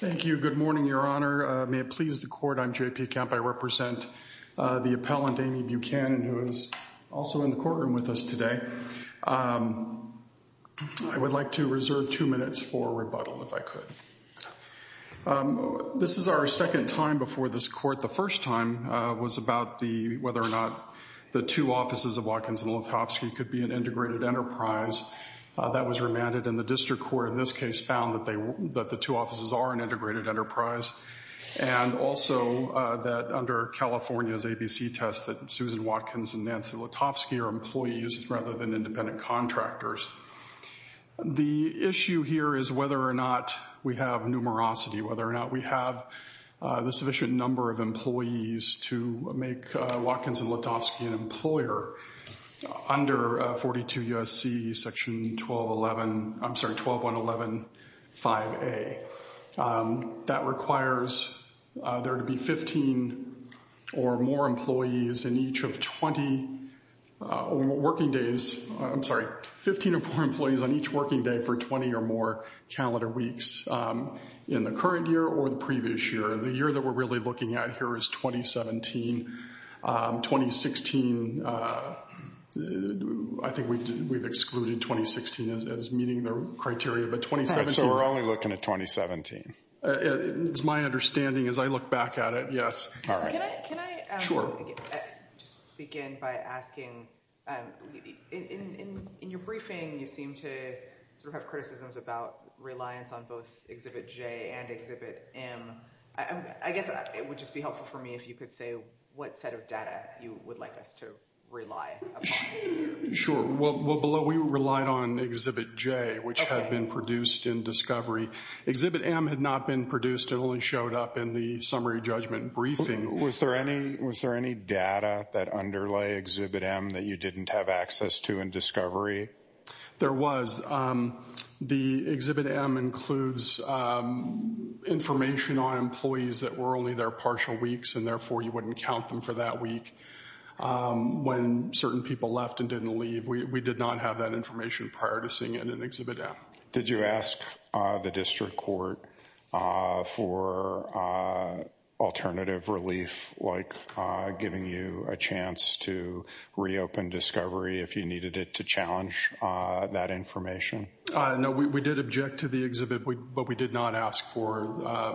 Thank you. Good morning, Your Honor. May it please the Court, I'm J.P. Camp. I represent the appellant, Amy Buchanan, who is also in the courtroom with us today. I would like to reserve two minutes for rebuttal, if I could. This is our second time before this Court. The first time was about whether or not the two offices of Watkins & Letofsky could be an integrated enterprise. That was remanded, and the District Court in this case found that the two offices are an integrated enterprise, and also that under California's ABC test that Susan Watkins and Nancy Letofsky are employees rather than independent contractors. The issue here is whether or not we have numerosity, whether or not we have the sufficient number of employees to make Watkins & Letofsky an employer under 42 U.S.C. section 12115A. That requires there to be 15 or more employees on each working day for 20 or more calendar weeks in the current year or the previous year. The year that we're looking at here is 2017. 2016, I think we've excluded 2016 as meeting the criteria. All right, so we're only looking at 2017. It's my understanding as I look back at it, yes. All right. Can I just begin by asking, in your briefing, you seem to have criticisms about reliance on both Exhibit J and Exhibit M. I guess it would just be helpful for me if you could say what set of data you would like us to rely upon. Sure. Well, we relied on Exhibit J, which had been produced in Discovery. Exhibit M had not been produced. It only showed up in the summary judgment briefing. Was there any data that underlay Exhibit M that you didn't have access to in Discovery? There was. The Exhibit M includes information on employees that were only there partial weeks, and therefore you wouldn't count them for that week. When certain people left and didn't leave, we did not have that information prior to seeing it in Exhibit M. Did you ask the district court for alternative relief, like giving you a chance to reopen Discovery if you needed it to challenge that information? No, we did object to the exhibit, but we did not ask for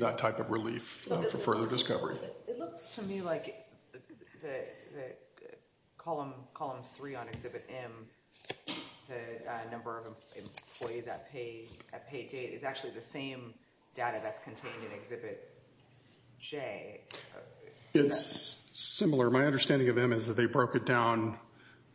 that type of relief for further Discovery. It looks to me like Column 3 on Exhibit M, the number of employees at pay date, is actually the same data that's contained in Exhibit J. It's similar. My understanding of M is that they broke it down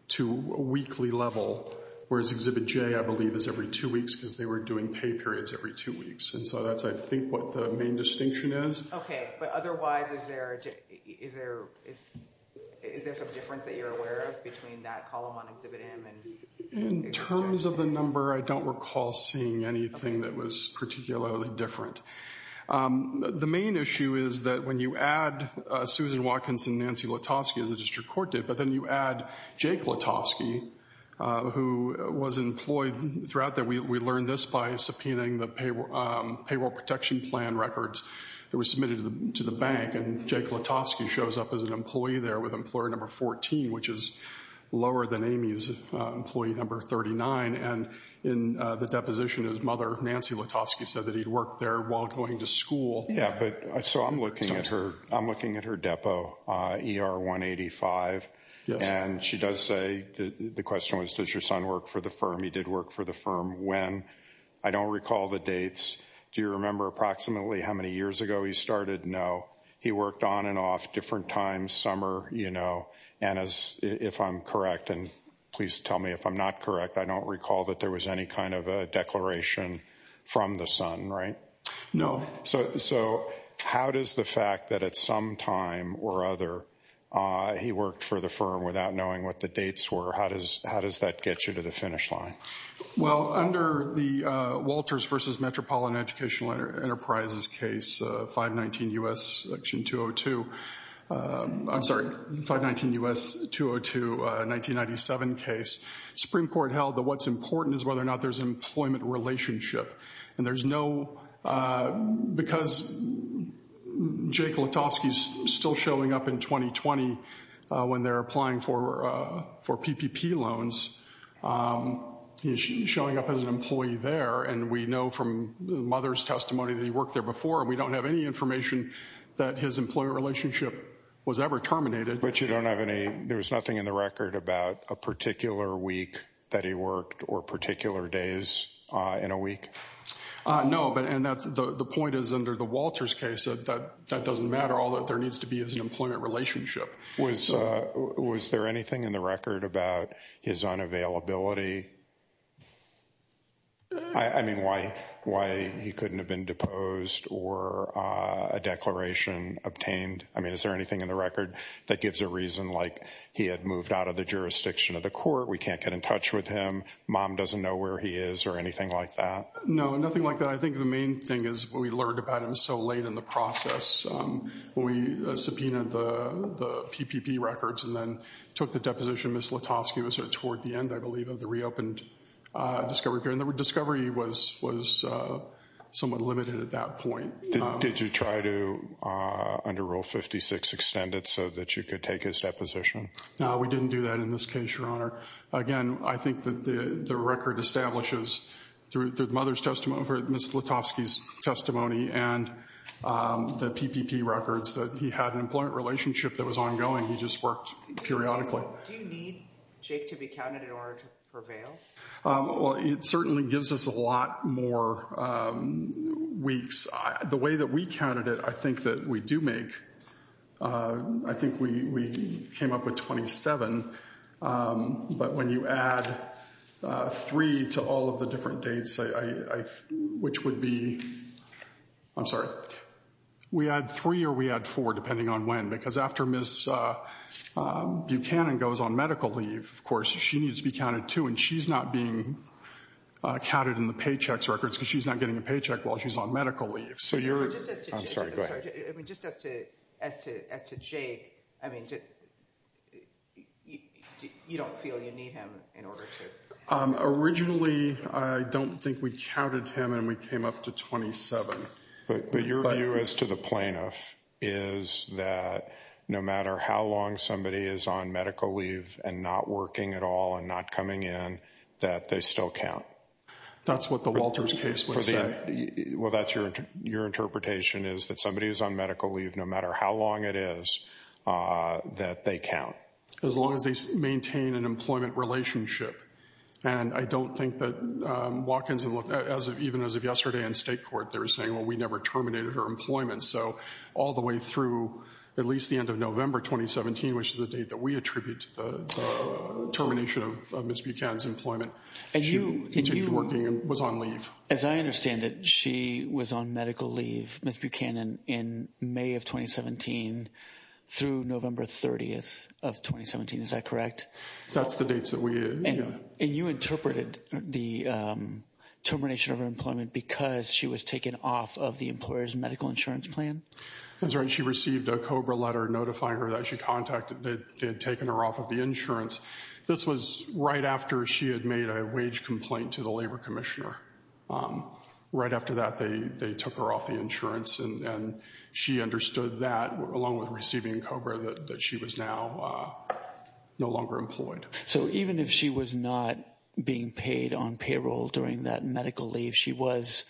to a weekly level, whereas Exhibit J, I believe, is every two weeks, because they were doing pay periods every two weeks. And so that's, I think, what the main distinction is. Okay, but otherwise, is there some difference that you're aware of between that column on Exhibit M and Exhibit J? In terms of the number, I don't recall seeing anything that was particularly different. The main issue is that when you add Susan Watkins and Nancy Lotovsky, as the district court did, but then you add Jake Lotovsky, who was employed throughout that. We learned this by subpoenaing the payroll protection plan records that were submitted to the bank, and Jake Lotovsky shows up as an employee there with employer number 14, which is lower than Amy's employee number 39. And in the deposition, his mother, Nancy Lotovsky, said that he'd worked there while going to school. Yeah, but so I'm looking at her depo, ER 185. And she does say, the question was, does your son work for the firm? He did work for the firm. When? I don't recall the dates. Do you remember approximately how many years ago he started? No. He worked on and off, different times, summer, you know. And if I'm correct, and please tell me if I'm not correct, I don't recall that there was any kind of a declaration from the son, right? No. So how does the fact that at some time or other, he worked for the firm without knowing what the dates were, how does that get you to the finish line? Well, under the Walters versus Metropolitan Educational Enterprises case, 519 U.S. section is whether or not there's an employment relationship. And there's no, because Jake Lotovsky's still showing up in 2020, when they're applying for PPP loans, he's showing up as an employee there. And we know from the mother's testimony that he worked there before, and we don't have any information that his employer relationship was ever terminated. But you don't have any, there was nothing in the record about a particular week that he worked or particular days in a week? No, but, and that's the point is under the Walters case, that doesn't matter. All that there needs to be is an employment relationship. Was there anything in the record about his unavailability? I mean, why he couldn't have been deposed or a declaration obtained? I mean, is there anything in the record that gives a reason, like he had moved out of the jurisdiction of the court? We can't get in touch with him. Mom doesn't know where he is or anything like that? No, nothing like that. I think the main thing is we learned about him so late in the process. We subpoenaed the PPP records and then took the deposition. Ms. Lotovsky was sort of toward the end, I believe, of the reopened discovery period. Discovery was somewhat limited at that point. Did you try to, under Rule 56, extend it so that you could take his deposition? No, we didn't do that in this case, Your Honor. Again, I think that the record establishes, through the mother's testimony, or Ms. Lotovsky's testimony and the PPP records, that he had an employment relationship that was ongoing. He just worked periodically. Do you need Jake to be counted in order to prevail? Well, it certainly gives us a lot more weeks. The way that we counted it, I think that we do make, I think we came up with 27. But when you add three to all of the different dates, which would be... I'm sorry. We add three or we add four, depending on when. Because after Ms. Buchanan goes on medical leave, of course, she needs to be counted too. And she's not being counted in the paychecks records because she's not getting a paycheck while she's on medical leave. I'm sorry, go ahead. Just as to Jake, I mean, you don't feel you need him in order to... Originally, I don't think we counted him and we came up to 27. But your view as to the plaintiff is that no matter how long somebody is on medical leave and not working at all and not coming in, that they still count. That's what the Walters case would say. Well, that's your interpretation is that somebody who's on medical leave, no matter how long it is, that they count. As long as they maintain an employment relationship. And I don't think that Watkins, even as of yesterday in state court, they were saying, well, we never terminated her employment. So all the way through at least the end of November 2017, which is the date that we attribute to the termination of Ms. Buchanan's employment. And she continued working and was on leave. As I understand it, she was on medical leave, Ms. Buchanan, in May of 2017 through November 30th of 2017. Is that correct? That's the dates that we... And you interpreted the termination of her employment because she was taken off of the employer's medical insurance plan? That's right. She received a COBRA letter notifying her that she contacted, that they had taken her off of the insurance. This was right after she had made a wage complaint to the Labor Commissioner. Right after that, they took her off the insurance. And she understood that, along with receiving COBRA, that she was now no longer employed. So even if she was not being paid on payroll during that medical leave, she was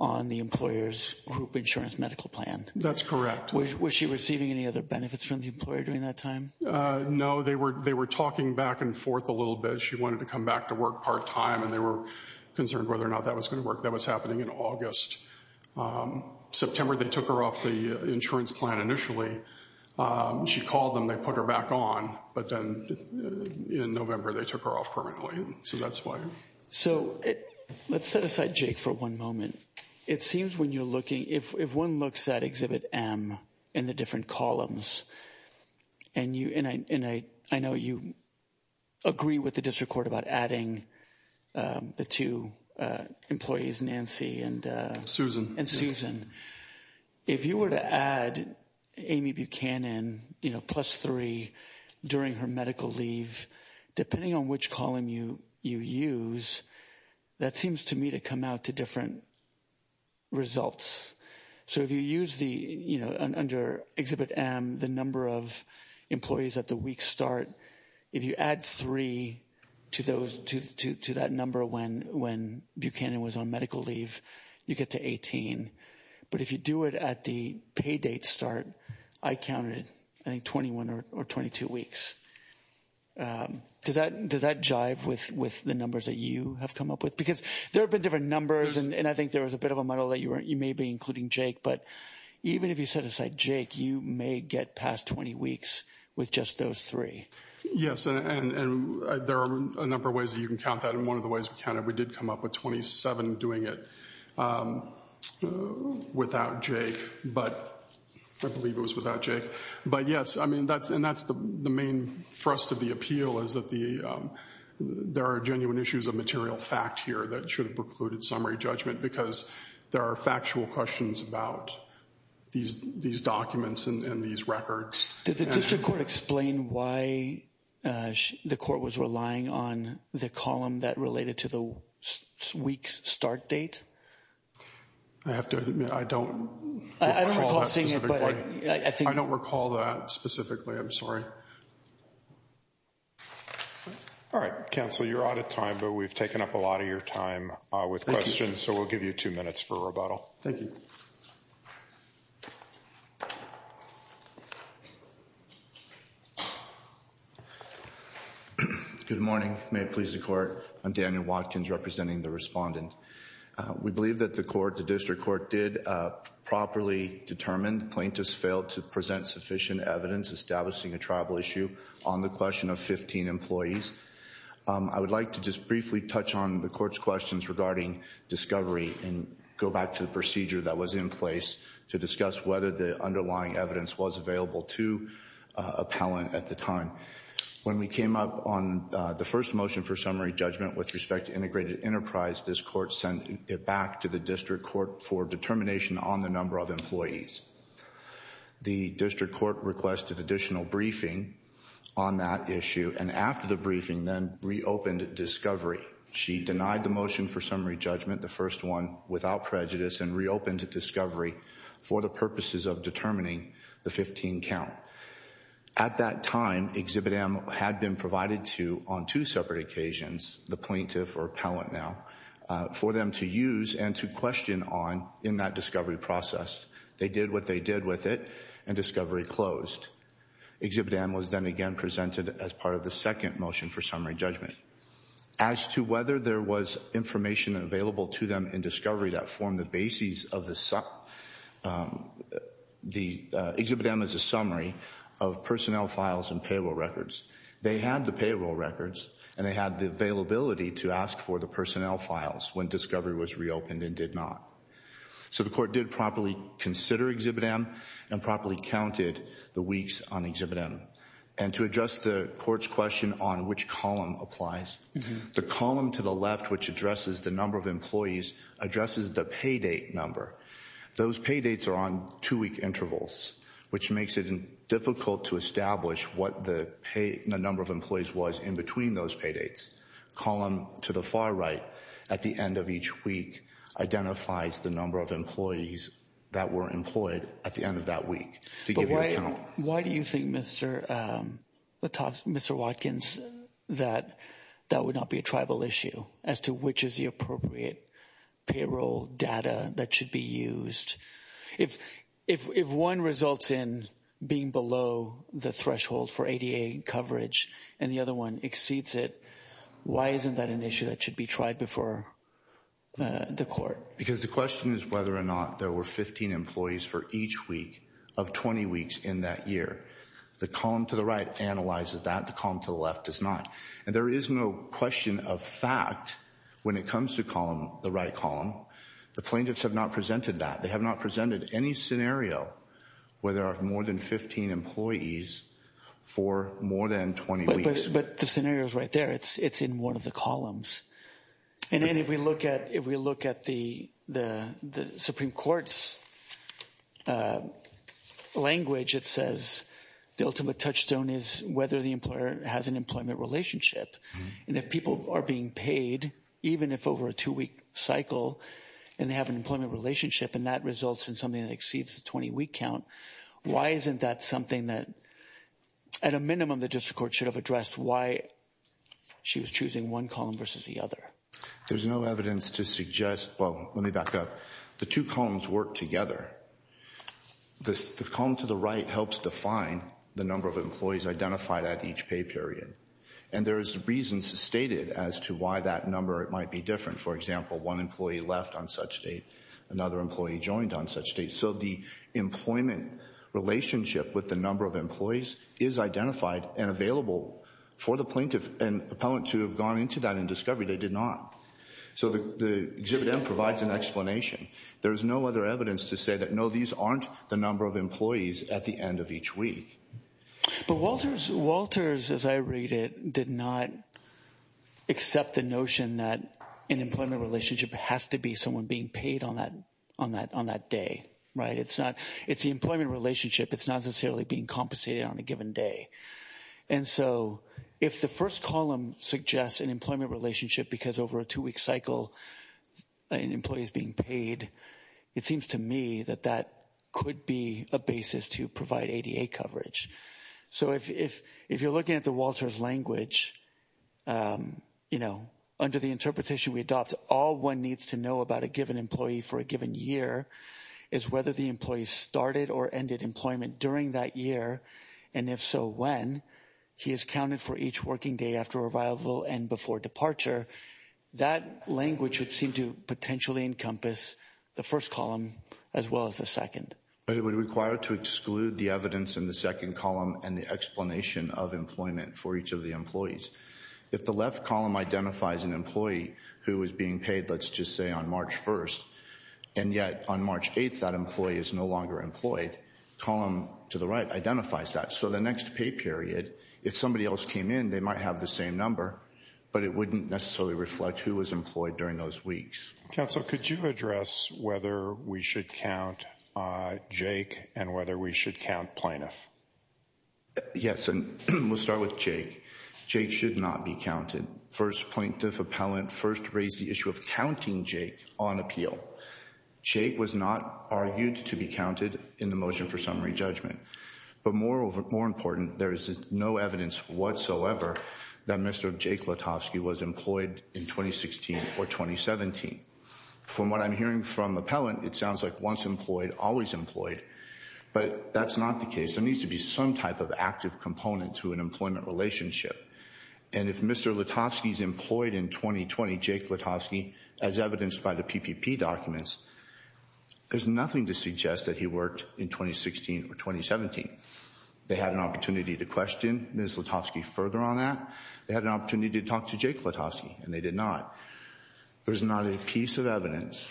on the employer's group insurance medical plan? That's correct. Was she receiving any other benefits from the employer during that time? No, they were talking back and forth a little bit. She wanted to come back to work part time. And they were concerned whether or not that was going to work. That was happening in August. September, they took her off the insurance plan initially. She called them. They put her back on. But then in November, they took her off permanently. So that's why. So let's set aside Jake for one moment. It seems when you're looking... If one looks at Exhibit M in the different columns, and I know you agree with the District Court about adding the two employees, Nancy and... Susan. If you were to add Amy Buchanan, you know, plus three during her medical leave, depending on which column you use, that seems to me to come out to different results. So if you use the, you know, under Exhibit M, the number of employees at the week start, if you add three to that number when Buchanan was on medical leave, you get to 18. But if you do it at the pay date start, I counted, I think, 21 or 22 weeks. Does that jive with the numbers that you have come up with? Because there have been different numbers. And I think there was a bit of a muddle that you may be including Jake. But even if you set aside Jake, you may get past 20 weeks with just those three. Yes, and there are a number of ways that you can count that. And one of the ways we counted, we did come up with 27 doing it without Jake. But I believe it was without Jake. But yes, I mean, and that's the main thrust of the appeal, is that there are genuine issues of material fact here that should have precluded summary judgment because there are factual questions about these documents and these records. Did the district court explain why the court was relying on the column that related to the week's start date? I have to admit, I don't recall that specifically. I don't recall that specifically. I'm sorry. All right, counsel, you're out of time. But we've taken up a lot of your time with questions. So we'll give you two minutes for rebuttal. Thank you. Good morning. May it please the court. I'm Daniel Watkins representing the respondent. We believe that the court, the district court, did properly determine. Plaintiffs failed to present sufficient evidence establishing a tribal issue on the question of 15 employees. I would like to just briefly touch on the court's questions regarding discovery and go back to the procedure that was in place to discuss whether the underlying evidence was available to appellant at the time. When we came up on the first motion for summary judgment with respect to integrated enterprise, this court sent it back to the district court for determination on the number of employees. The district court requested additional briefing on that issue and after the briefing then reopened discovery. She denied the motion for summary judgment, the first one, without prejudice and reopened discovery for the purposes of determining the 15 count. At that time, Exhibit M had been provided to, on two separate occasions, the plaintiff or appellant now, for them to use and to question on in that discovery process. They did what they did with it and discovery closed. Exhibit M was then again presented as part of the second motion for summary judgment. As to whether there was information available to them in discovery that formed the basis of the... The Exhibit M is a summary of personnel files and payroll records. They had the payroll records and they had the availability to ask for the personnel files when discovery was reopened and did not. So the court did properly consider Exhibit M and properly counted the weeks on Exhibit M. And to address the court's question on which column applies, the column to the left which addresses the number of employees addresses the pay date number. Those pay dates are on two-week intervals which makes it difficult to establish what the number of employees was in between those pay dates. Column to the far right at the end of each week identifies the number of employees that were employed at the end of that week. Why do you think, Mr. Watkins, that that would not be a tribal issue as to which is the appropriate payroll data that should be used? If one results in being below the threshold for ADA coverage and the other one exceeds it, why isn't that an issue that should be tried before the court? Because the question is whether or not there were 15 employees for each week of 20 weeks in that year. The column to the right analyzes that. The column to the left does not. And there is no question of fact when it comes to the right column. The plaintiffs have not presented that. They have not presented any scenario where there are more than 15 employees for more than 20 weeks. But the scenario is right there. It's in one of the columns. And then if we look at the Supreme Court's language, it says the ultimate touchstone is whether the employer has an employment relationship. And if people are being paid, even if over a two-week cycle, and they have an employment relationship, and that results in something that exceeds the 20-week count, why isn't that something that at a minimum the district court should have addressed why she was choosing one column versus the other? There's no evidence to suggest... Well, let me back up. The two columns work together. The column to the right helps define the number of employees identified at each pay period. And there is reason stated as to why that number might be different. For example, one employee left on such date. Another employee joined on such date. So the employment relationship with the number of employees is identified and available for the plaintiff and appellant to have gone into that and discovered they did not. So the Exhibit M provides an explanation. There is no other evidence to say that, no, these aren't the number of employees at the end of each week. But Walters, as I read it, did not accept the notion that an employment relationship has to be someone being paid on that day, right? It's the employment relationship. It's not necessarily being compensated on a given day. And so if the first column suggests an employment relationship because over a two-week cycle an employee is being paid, it seems to me that that could be a basis to provide ADA coverage. So if you're looking at the Walters language, you know, under the interpretation we adopt, all one needs to know about a given employee for a given year is whether the employee started or ended employment during that year. And if so, when? He is counted for each working day after revival and before departure. That language would seem to potentially encompass the first column as well as the second. But it would require to exclude the evidence in the second column and the explanation of employment for each of the employees. If the left column identifies an employee who is being paid, let's just say on March 1st, and yet on March 8th, that employee is no longer employed, column to the right identifies that. So the next pay period, if somebody else came in, they might have the same number, but it wouldn't necessarily reflect who was employed during those weeks. Counsel, could you address whether we should count Jake and whether we should count plaintiff? Yes, and we'll start with Jake. Jake should not be counted. First plaintiff appellant first raised the issue of counting Jake on appeal. Jake was not argued to be counted in the motion for summary judgment. But more important, there is no evidence whatsoever that Mr. Jake Letofsky was employed in 2016 or 2017. From what I'm hearing from appellant, it sounds like once employed, always employed, but that's not the case. There needs to be some type of active component to an employment relationship. And if Mr. Letofsky is employed in 2020, Jake Letofsky, as evidenced by the PPP documents, there's nothing to suggest that he worked in 2016 or 2017. They had an opportunity to question Ms. Letofsky further on that. They had an opportunity to talk to Jake Letofsky, and they did not. There's not a piece of evidence,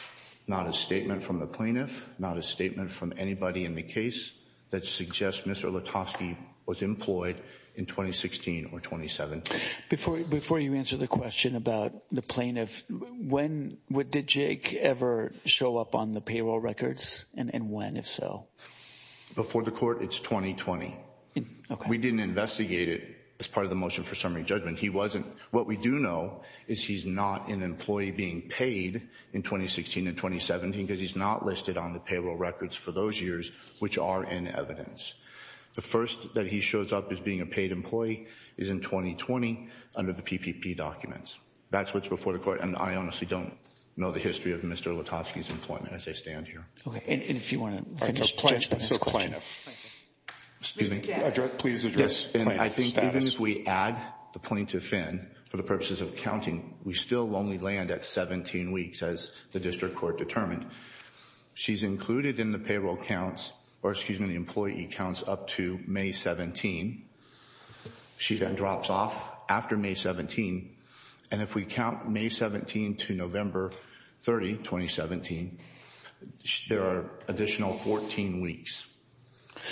not a statement from the plaintiff, not a statement from anybody in the case that suggests Mr. Letofsky was employed in 2016 or 2017. Before you answer the question about the plaintiff, did Jake ever show up on the payroll records? And when, if so? Before the court, it's 2020. We didn't investigate it as part of the motion for summary judgment. What we do know is he's not an employee being paid in 2016 and 2017 because he's not listed on the payroll records for those years, which are in evidence. The first that he shows up as being a paid employee is in 2020 under the PPP documents. That's what's before the court, and I honestly don't know the history of Mr. Letofsky's employment as I stand here. Okay, and if you want to finish your question, Mr. Plaintiff. Please address the plaintiff's status. Even if we add the plaintiff in for the purposes of counting, we still only land at 17 weeks as the district court determined. She's included in the payroll counts, or excuse me, the employee counts up to May 17. She then drops off after May 17. And if we count May 17 to November 30, 2017, there are additional 14 weeks.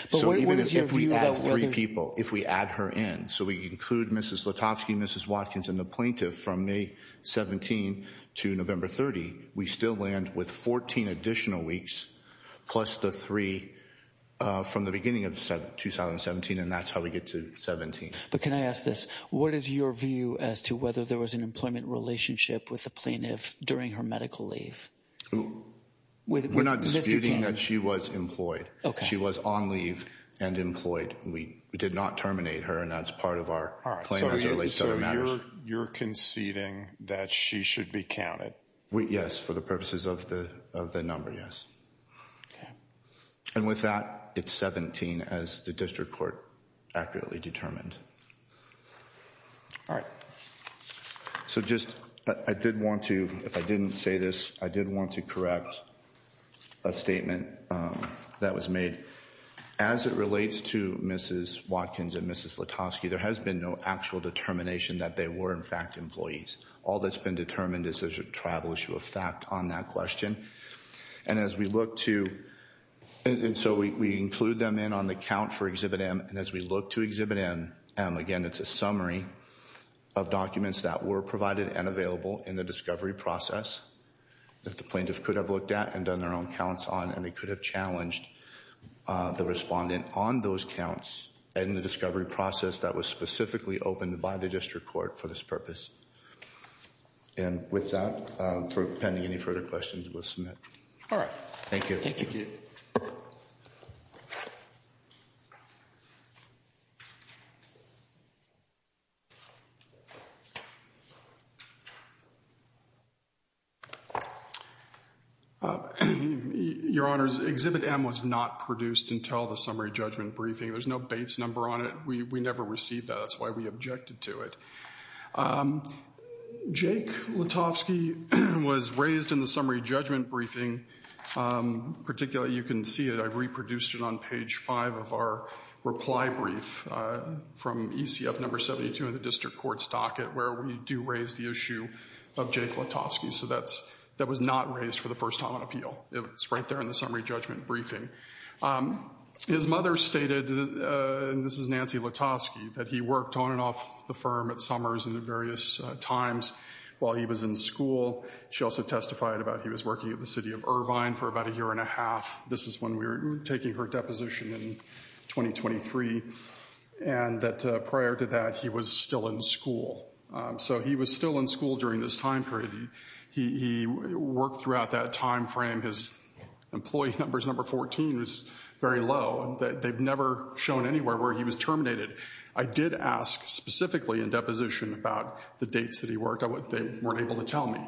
So even if we add three people, if we add her in, so we include Mrs. Letofsky, Mrs. Watkins, and the plaintiff from May 17 to November 30, we still land with 14 additional weeks, plus the three from the beginning of 2017, and that's how we get to 17. But can I ask this? What is your view as to whether there was an employment relationship with the plaintiff during her medical leave? We're not disputing that she was employed. She was on leave and employed. We did not terminate her, and that's part of our plan as it relates to other matters. So you're conceding that she should be counted? Yes, for the purposes of the number, yes. Okay. And with that, it's 17 as the district court accurately determined. All right. So just, I did want to, if I didn't say this, I did want to correct a statement that was made. As it relates to Mrs. Watkins and Mrs. Letofsky, there has been no actual determination that they were, in fact, employees. All that's been determined is there's a tribal issue of fact on that question. And as we look to, and so we include them in on the count for Exhibit M, and as we look to Exhibit M, again, it's a summary of documents that were provided and available in the discovery process that the plaintiff could have looked at and done their own counts on, and they could have challenged the respondent on those counts in the discovery process that was specifically opened by the district court for this purpose. And with that, pending any further questions, we'll submit. All right. Thank you. Your Honors, Exhibit M was not produced until the summary judgment briefing. There's no Bates number on it. We never received that. That's why we objected to it. Jake Letofsky was raised in the summary judgment briefing. Particularly, you can see it. I reproduced it on page 5 of our reply brief from ECF number 72 in the district court's docket, where we do raise the issue of Jake Letofsky. So that was not raised for the first time on appeal. It's right there in the summary judgment briefing. His mother stated, and this is Nancy Letofsky, that he worked on and off the firm at Summers and at various times while he was in school. She also testified about he was working at the city of Irvine for about a year and a half. This is when we were taking her deposition in 2023. And that prior to that, he was still in school. So he was still in school during this time period. He worked throughout that time frame. His employee numbers, number 14, was very low. They've never shown anywhere where he was terminated. I did ask specifically in deposition about the dates that he worked. They weren't able to tell me.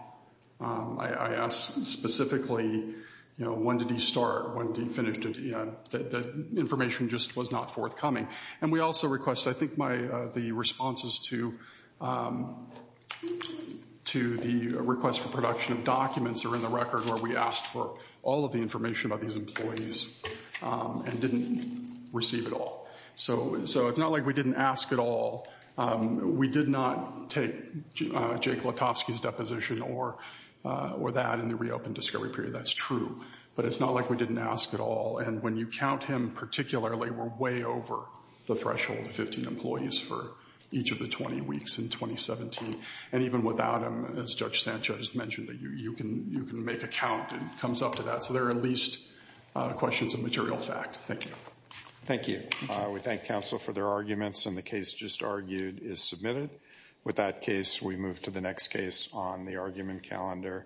I asked specifically, you know, when did he start? When did he finish? The information just was not forthcoming. And we also request, I think the responses to the request for production of documents are in the record where we asked for all of the information about these employees and didn't receive it all. So it's not like we didn't ask at all. We did not take Jake Letofsky's deposition or that in the reopened discovery period. That's true. But it's not like we didn't ask at all. And when you count him particularly, we're way over the threshold of 15 employees for each of the 20 weeks in 2017. And even without him, as Judge Sanchez mentioned, you can make a count. It comes up to that. So there are at least questions of material fact. Thank you. We thank counsel for their arguments. And the case just argued is submitted. With that case, we move to the next case on the argument calendar.